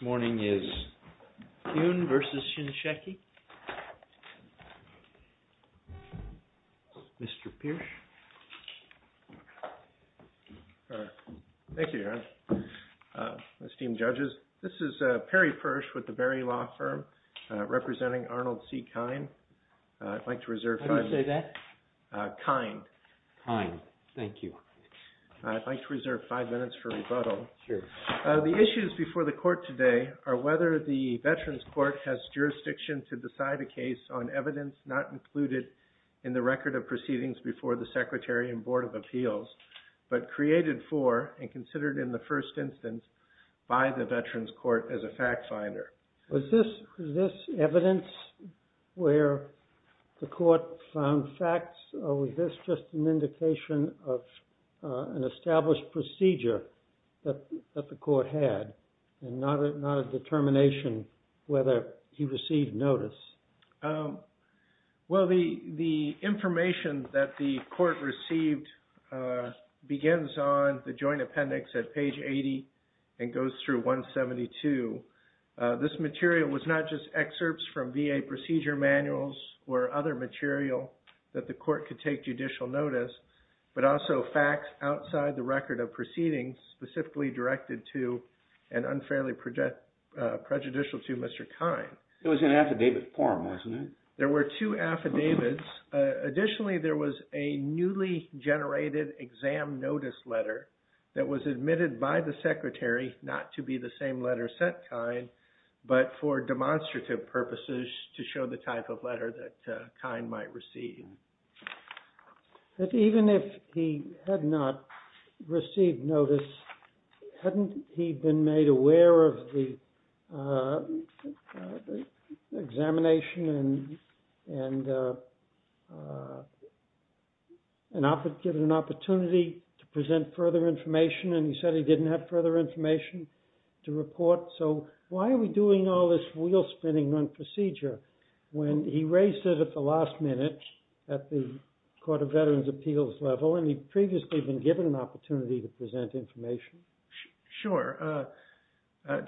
This morning is Huynh v. Shinseki. Mr. Piersch. Thank you, Your Honor. Esteemed judges, this is Perry Piersch with the Berry Law Firm, representing Arnold C. Kine. I'd like to reserve five minutes. How do you say that? Kine. Kine. Thank you. I'd like to reserve five minutes for rebuttal. Sure. The issues before the court today are whether the Veterans Court has jurisdiction to decide a case on evidence not included in the record of proceedings before the Secretary and Board of Appeals, but created for and considered in the first instance by the Veterans Court as a fact finder. Was this evidence where the court found facts, or was this just an indication of an established procedure that the court had, and not a determination whether he received notice? Well, the information that the court received begins on the joint appendix at page 80 and goes through 172. This material was not just excerpts from VA procedure manuals or other material that the court could take judicial notice, but also facts outside the record of proceedings specifically directed to and unfairly prejudicial to Mr. Kine. It was in affidavit form, wasn't it? There were two affidavits. Additionally, there was a newly generated exam notice letter that was admitted by the Secretary not to be the same letter sent Kine, but for demonstrative purposes to show the type of letter that Kine might receive. Even if he had not received notice, hadn't he been made aware of the examination and given an opportunity to present further information, and he said he didn't have further information to report? So why are we doing all this wheel-spinning on procedure when he raised it at the last minute at the Court of Veterans' Appeals level, and he'd previously been given an opportunity to present information? Sure.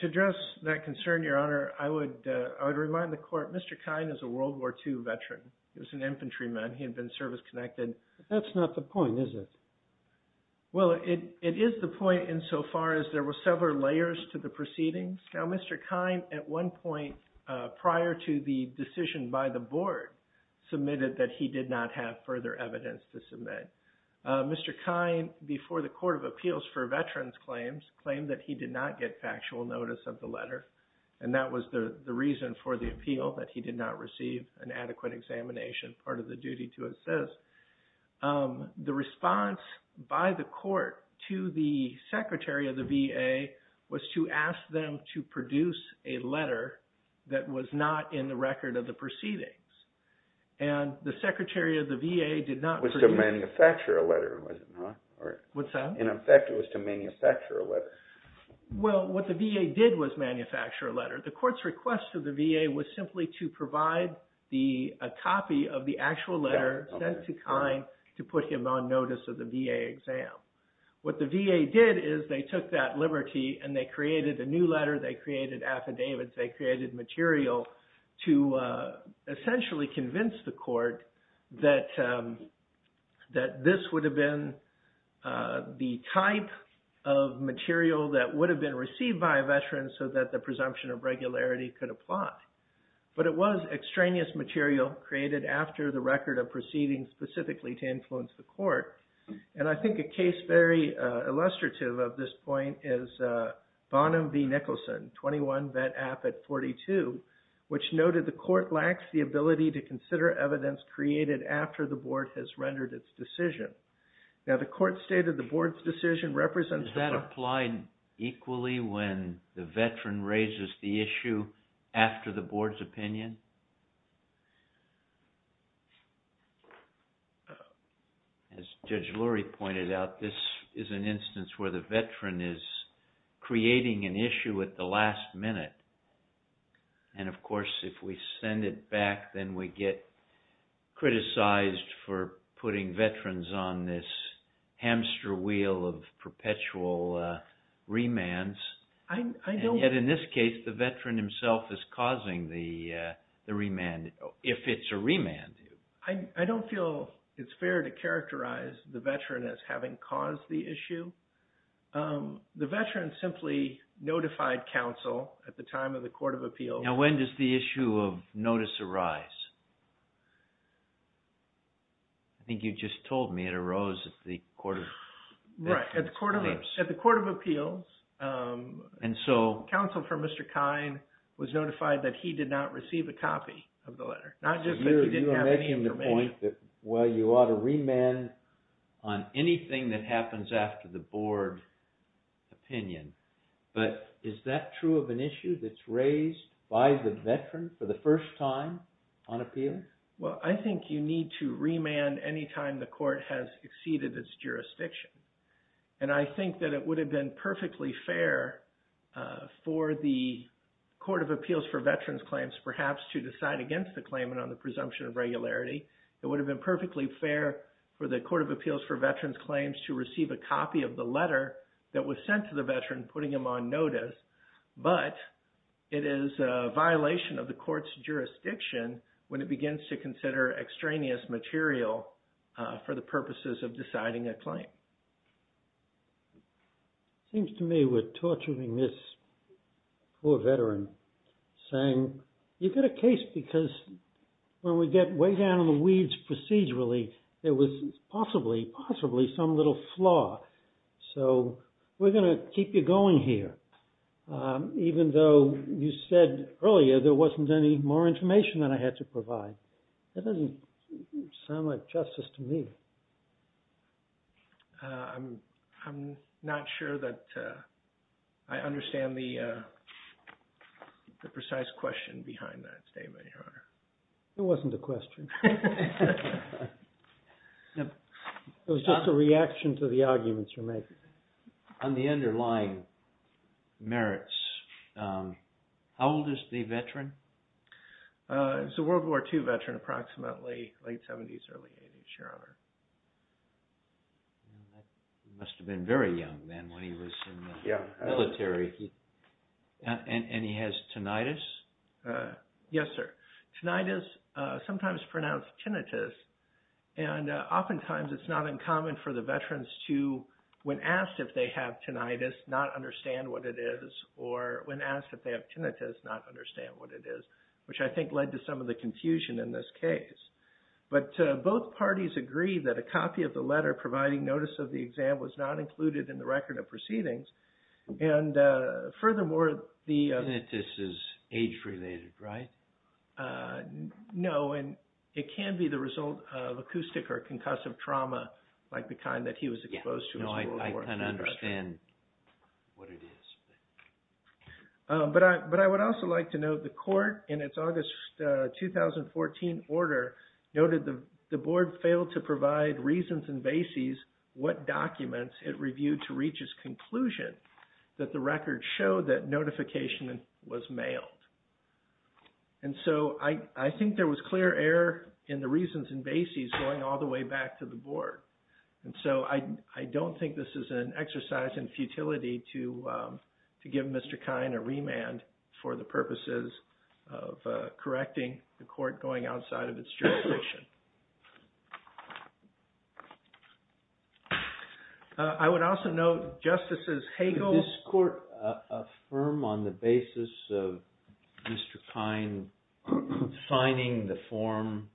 To address that concern, Your Honor, I would remind the court Mr. Kine is a World War II veteran. He was an infantryman. He had been service-connected. That's not the point, is it? Well, it is the point insofar as there were several layers to the proceedings. Now, Mr. Kine, at one point prior to the decision by the board, submitted that he did not have further evidence to submit. Mr. Kine, before the Court of Appeals for veterans claims, claimed that he did not get factual notice of the letter, and that was the reason for the appeal, that he did not receive an adequate examination, part of the duty to assist. The response by the court to the secretary of the VA was to ask them to produce a letter that was not in the record of the proceedings, and the secretary of the VA did not produce… It was to manufacture a letter, was it not? What's that? In effect, it was to manufacture a letter. Well, what the VA did was manufacture a letter. The court's request to the VA was simply to provide a copy of the actual letter sent to Kine to put him on notice of the VA exam. What the VA did is they took that liberty and they created a new letter, they created affidavits, they created material to essentially convince the court that this would have been the type of material that would have been received by a veteran so that the presumption of regularity could apply. But it was extraneous material created after the record of proceedings specifically to influence the court. And I think a case very illustrative of this point is Bonham v. Nicholson, 21 vet affid 42, which noted the court lacks the ability to consider evidence created after the board has rendered its decision. Now, the court stated the board's decision represents… Does it apply equally when the veteran raises the issue after the board's opinion? As Judge Lurie pointed out, this is an instance where the veteran is creating an issue at the last minute. And of course, if we send it back, then we get criticized for putting veterans on this hamster wheel of perpetual remands. Yet in this case, the veteran himself is causing the remand, if it's a remand. I don't feel it's fair to characterize the veteran as having caused the issue. The veteran simply notified counsel at the time of the court of appeals. Now, when does the issue of notice arise? I think you just told me it arose at the court of appeals. At the court of appeals, counsel for Mr. Kine was notified that he did not receive a copy of the letter. You are making the point that, well, you ought to remand on anything that happens after the board opinion. But is that true of an issue that's raised by the veteran for the first time on appeal? Well, I think you need to remand any time the court has exceeded its jurisdiction. And I think that it would have been perfectly fair for the court of appeals for veterans claims perhaps to decide against the claimant on the presumption of regularity. It would have been perfectly fair for the court of appeals for veterans claims to receive a copy of the letter that was sent to the veteran, putting him on notice. But it is a violation of the court's jurisdiction when it begins to consider extraneous material for the purposes of deciding a claim. It seems to me we're torturing this poor veteran, saying you've got a case because when we get way down in the weeds procedurally, there was possibly, possibly some little flaw. So we're going to keep you going here, even though you said earlier there wasn't any more information that I had to provide. That doesn't sound like justice to me. I'm not sure that I understand the precise question behind that statement, Your Honor. It wasn't a question. It was just a reaction to the arguments you're making. On the underlying merits, how old is the veteran? He's a World War II veteran, approximately late 70s, early 80s, Your Honor. He must have been very young then when he was in the military. And he has tinnitus? Yes, sir. Tinnitus, sometimes pronounced tinnitus. And oftentimes it's not uncommon for the veterans to, when asked if they have tinnitus, not understand what it is. Or when asked if they have tinnitus, not understand what it is, which I think led to some of the confusion in this case. But both parties agree that a copy of the letter providing notice of the exam was not included in the record of proceedings. And furthermore, the... Tinnitus is age-related, right? No, and it can be the result of acoustic or concussive trauma like the kind that he was exposed to as a World War II veteran. I can understand what it is. But I would also like to note the court, in its August 2014 order, noted the board failed to provide reasons and bases what documents it reviewed to reach its conclusion that the record showed that notification was mailed. And so I think there was clear error in the reasons and bases going all the way back to the board. And so I don't think this is an exercise in futility to give Mr. Kine a remand for the purposes of correcting the court going outside of its jurisdiction. I would also note Justices Hagel... Did this court affirm on the basis of Mr. Kine signing the form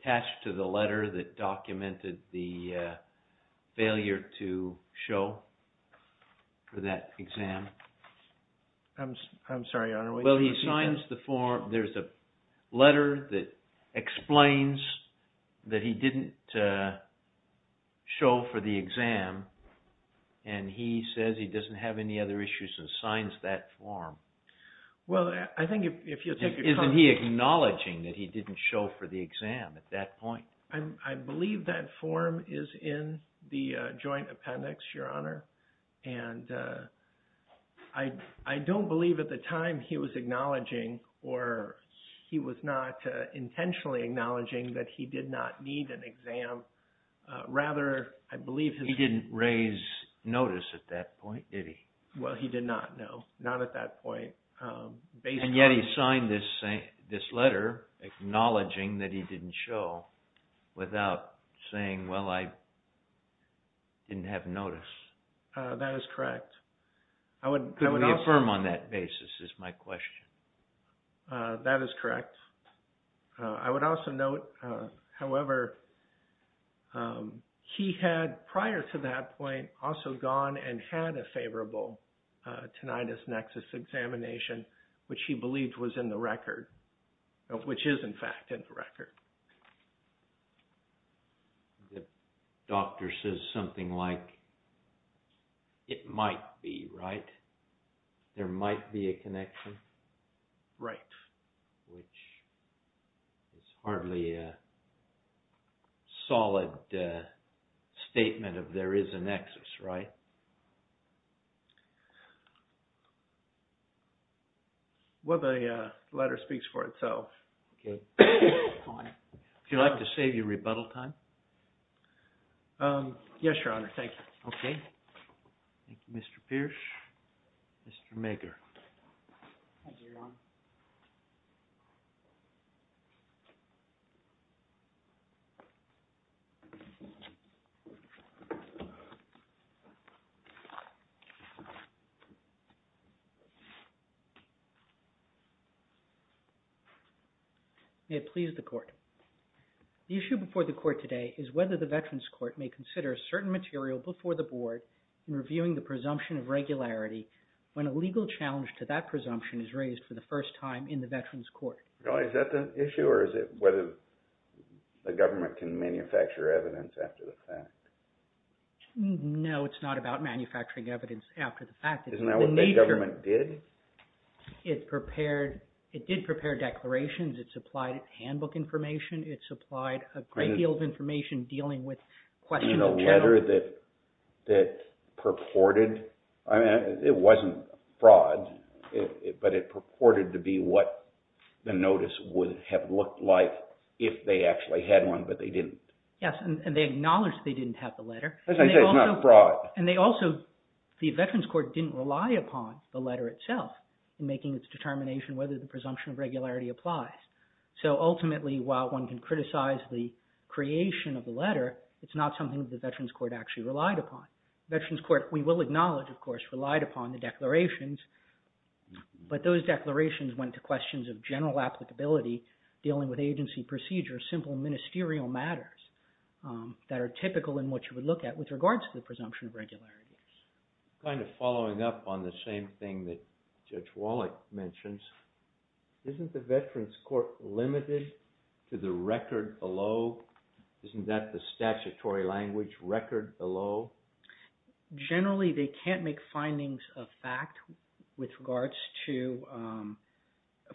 attached to the letter that documented the failure to show for that exam? Well, he signs the form. There's a letter that explains that he didn't show for the exam. And he says he doesn't have any other issues and signs that form. Isn't he acknowledging that he didn't show for the exam at that point? I believe that form is in the joint appendix, Your Honor. And I don't believe at the time he was acknowledging or he was not intentionally acknowledging that he did not need an exam. Rather, I believe... He didn't raise notice at that point, did he? Well, he did not, no. Not at that point. And yet he signed this letter acknowledging that he didn't show without saying, well, I didn't have notice. That is correct. I would also note, however, he had prior to that point also gone and had a favorable tinnitus nexus examination. Which he believed was in the record. Which is, in fact, in the record. The doctor says something like, it might be, right? There might be a connection? Right. Which is hardly a solid statement of there is a nexus, right? Well, the letter speaks for itself. If you'd like to save your rebuttal time. Yes, Your Honor. Thank you. Is that the issue? Or is it whether the government can manufacture evidence after the fact? Isn't that what the government did? The letter that purported... It wasn't fraud, but it purported to be what the notice would have looked like if they actually had one, but they didn't. Yes, and they acknowledged they didn't have the letter. And they also, the Veterans Court didn't rely upon the letter itself in making its determination whether the presumption of regularity applies. So ultimately, while one can criticize the creation of the letter, it's not something the Veterans Court actually relied upon. Veterans Court, we will acknowledge, of course, relied upon the declarations. But those declarations went to questions of general applicability, dealing with agency procedures, simple ministerial matters. That are typical in what you would look at with regards to the presumption of regularity. Kind of following up on the same thing that Judge Wallach mentions, isn't the Veterans Court limited to the record below? Isn't that the statutory language, record below? Generally, they can't make findings of fact with regards to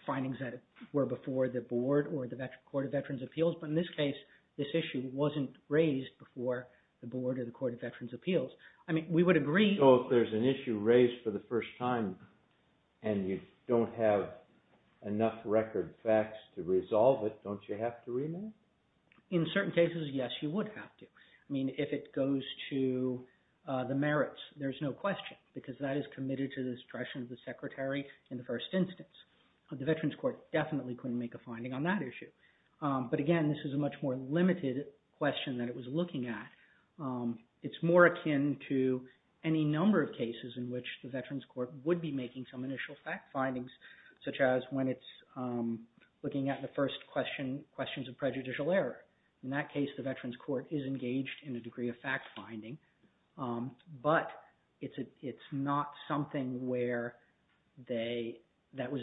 findings that were before the board or the Court of Veterans Appeals. But in this case, this issue wasn't raised before the board or the Court of Veterans Appeals. So if there's an issue raised for the first time and you don't have enough record facts to resolve it, don't you have to remand? In certain cases, yes, you would have to. I mean, if it goes to the merits, there's no question because that is committed to the discretion of the secretary in the first instance. The Veterans Court definitely couldn't make a finding on that issue. But again, this is a much more limited question that it was looking at. It's more akin to any number of cases in which the Veterans Court would be making some initial fact findings, such as when it's looking at the first questions of prejudicial error. In that case, the Veterans Court is engaged in a degree of fact finding, but it's not something that was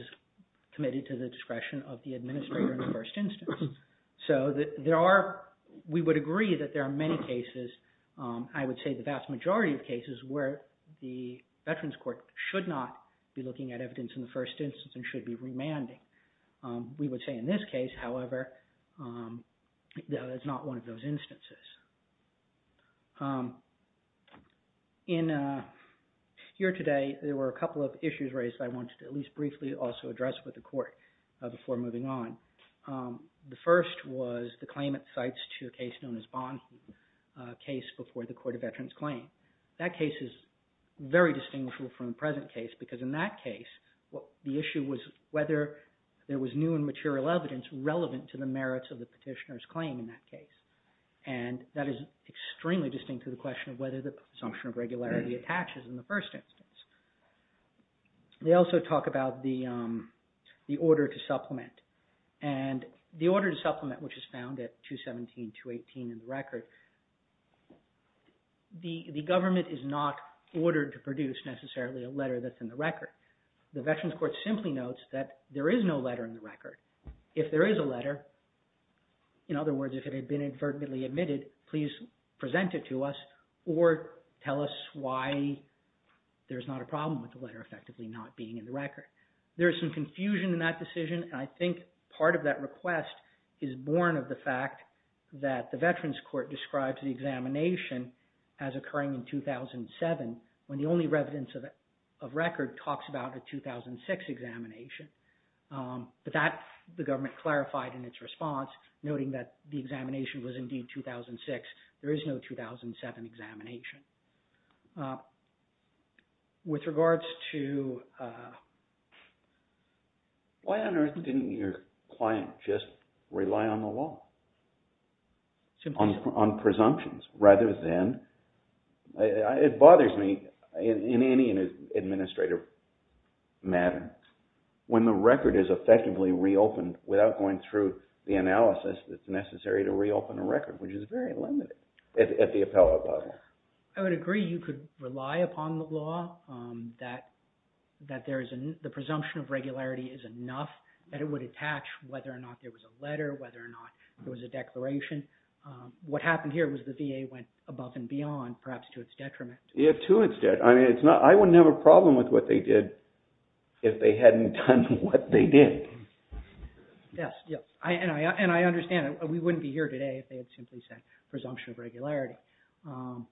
committed to the discretion of the administrator in the first instance. So we would agree that there are many cases, I would say the vast majority of cases, where the Veterans Court should not be looking at evidence in the first instance and should be remanding. We would say in this case, however, that it's not one of those instances. Here today, there were a couple of issues raised that I wanted to at least briefly also address with the court before moving on. The first was the claimant cites to a case known as Bond case before the Court of Veterans Claim. That case is very distinguishable from the present case because in that case, the issue was whether there was new and material evidence relevant to the merits of the petitioner's claim in that case. And that is extremely distinct to the question of whether the assumption of regularity attaches in the first instance. They also talk about the order to supplement. And the order to supplement, which is found at 217, 218 in the record, the government is not ordered to produce necessarily a letter that's in the record. The Veterans Court simply notes that there is no letter in the record. If there is a letter, in other words, if it had been inadvertently admitted, please present it to us or tell us why there's not a problem with the letter effectively not being in the record. There is some confusion in that decision, and I think part of that request is born of the fact that the Veterans Court describes the examination as occurring in 2007, when the only relevance of record talks about a 2006 examination. But that, the government clarified in its response, noting that the examination was indeed 2006. There is no 2007 examination. With regards to... Why on earth didn't your client just rely on the law, on presumptions rather than... It bothers me in any administrative matter, when the record is effectively reopened without going through the analysis that's necessary to reopen a record, which is very limited at the appellate level. I would agree you could rely upon the law, that the presumption of regularity is enough, that it would attach whether or not there was a letter, whether or not there was a declaration. What happened here was the VA went above and beyond, perhaps to its detriment. I wouldn't have a problem with what they did if they hadn't done what they did. Yes, and I understand. We wouldn't be here today if they had simply said presumption of regularity.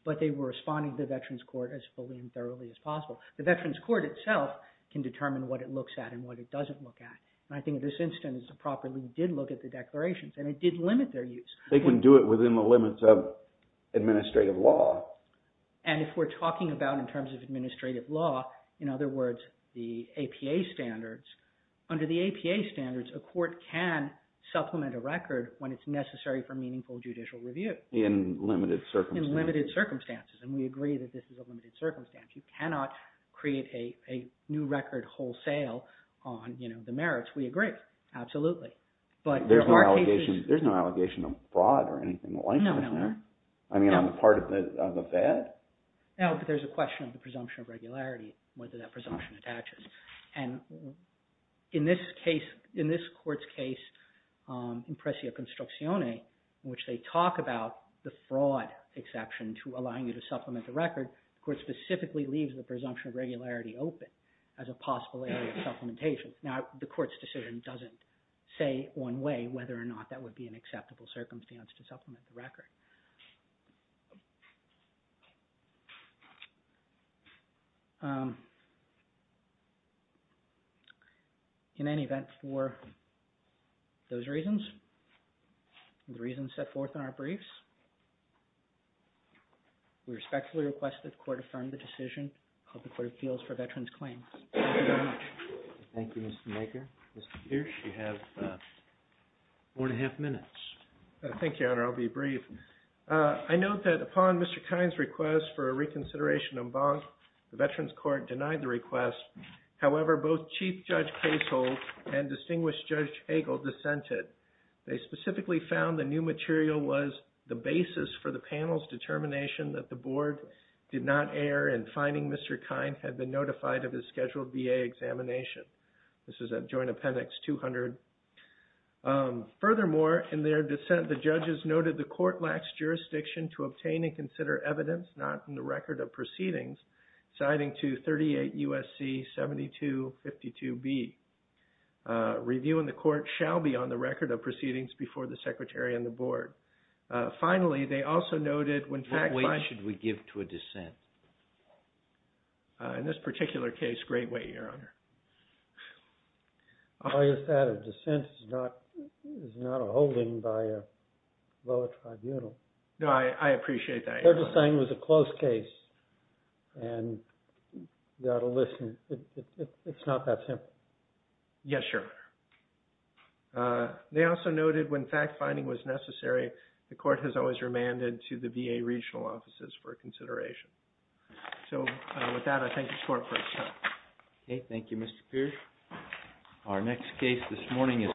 But they were responding to the Veterans Court as fully and thoroughly as possible. The Veterans Court itself can determine what it looks at and what it doesn't look at. I think in this instance, the property did look at the declarations and it did limit their use. They can do it within the limits of administrative law. If we're talking about in terms of administrative law, in other words, the APA standards, under the APA standards, a court can supplement a record when it's necessary for meaningful judicial review. In limited circumstances. In limited circumstances, and we agree that this is a limited circumstance. You cannot create a new record wholesale on the merits. We agree, absolutely. There's no allegation of fraud or anything like that, is there? No, no. I mean, on the part of the VAT? No, but there's a question of the presumption of regularity, whether that presumption attaches. And in this case, in this court's case, in Pressio Construzione, in which they talk about the fraud exception to allowing you to supplement the record, the court specifically leaves the presumption of regularity open as a possible area of supplementation. Now, the court's decision doesn't say one way whether or not that would be an acceptable circumstance to supplement the record. In any event, for those reasons, the reasons set forth in our briefs, we respectfully request that the court affirm the decision of the Court of Appeals for Veterans Claims. Thank you very much. Thank you, Mr. Maker. Mr. Pierce, you have four and a half minutes. Thank you, Your Honor. I'll be brief. I note that upon Mr. Kine's request for a reconsideration en banc, the Veterans Court denied the request. However, both Chief Judge Casehold and Distinguished Judge Hagel dissented. They specifically found the new material was the basis for the panel's determination that the board did not err in finding Mr. Kine had been notified of his scheduled VA examination. This is at Joint Appendix 200. Furthermore, in their dissent, the judges noted the court lacks jurisdiction to obtain and consider evidence not in the record of proceedings, citing to 38 U.S.C. 7252B. Review in the court shall be on the record of proceedings before the secretary and the board. Finally, they also noted when fact- What weight should we give to a dissent? In this particular case, great weight, Your Honor. I guess that a dissent is not a holding by a lower tribunal. No, I appreciate that, Your Honor. They're just saying it was a close case, and you ought to listen. It's not that simple. Yes, Your Honor. They also noted when fact-finding was necessary, the court has always remanded to the VA regional offices for consideration. So with that, I thank the court for its time. Okay, thank you, Mr. Pierce. Our next case this morning is-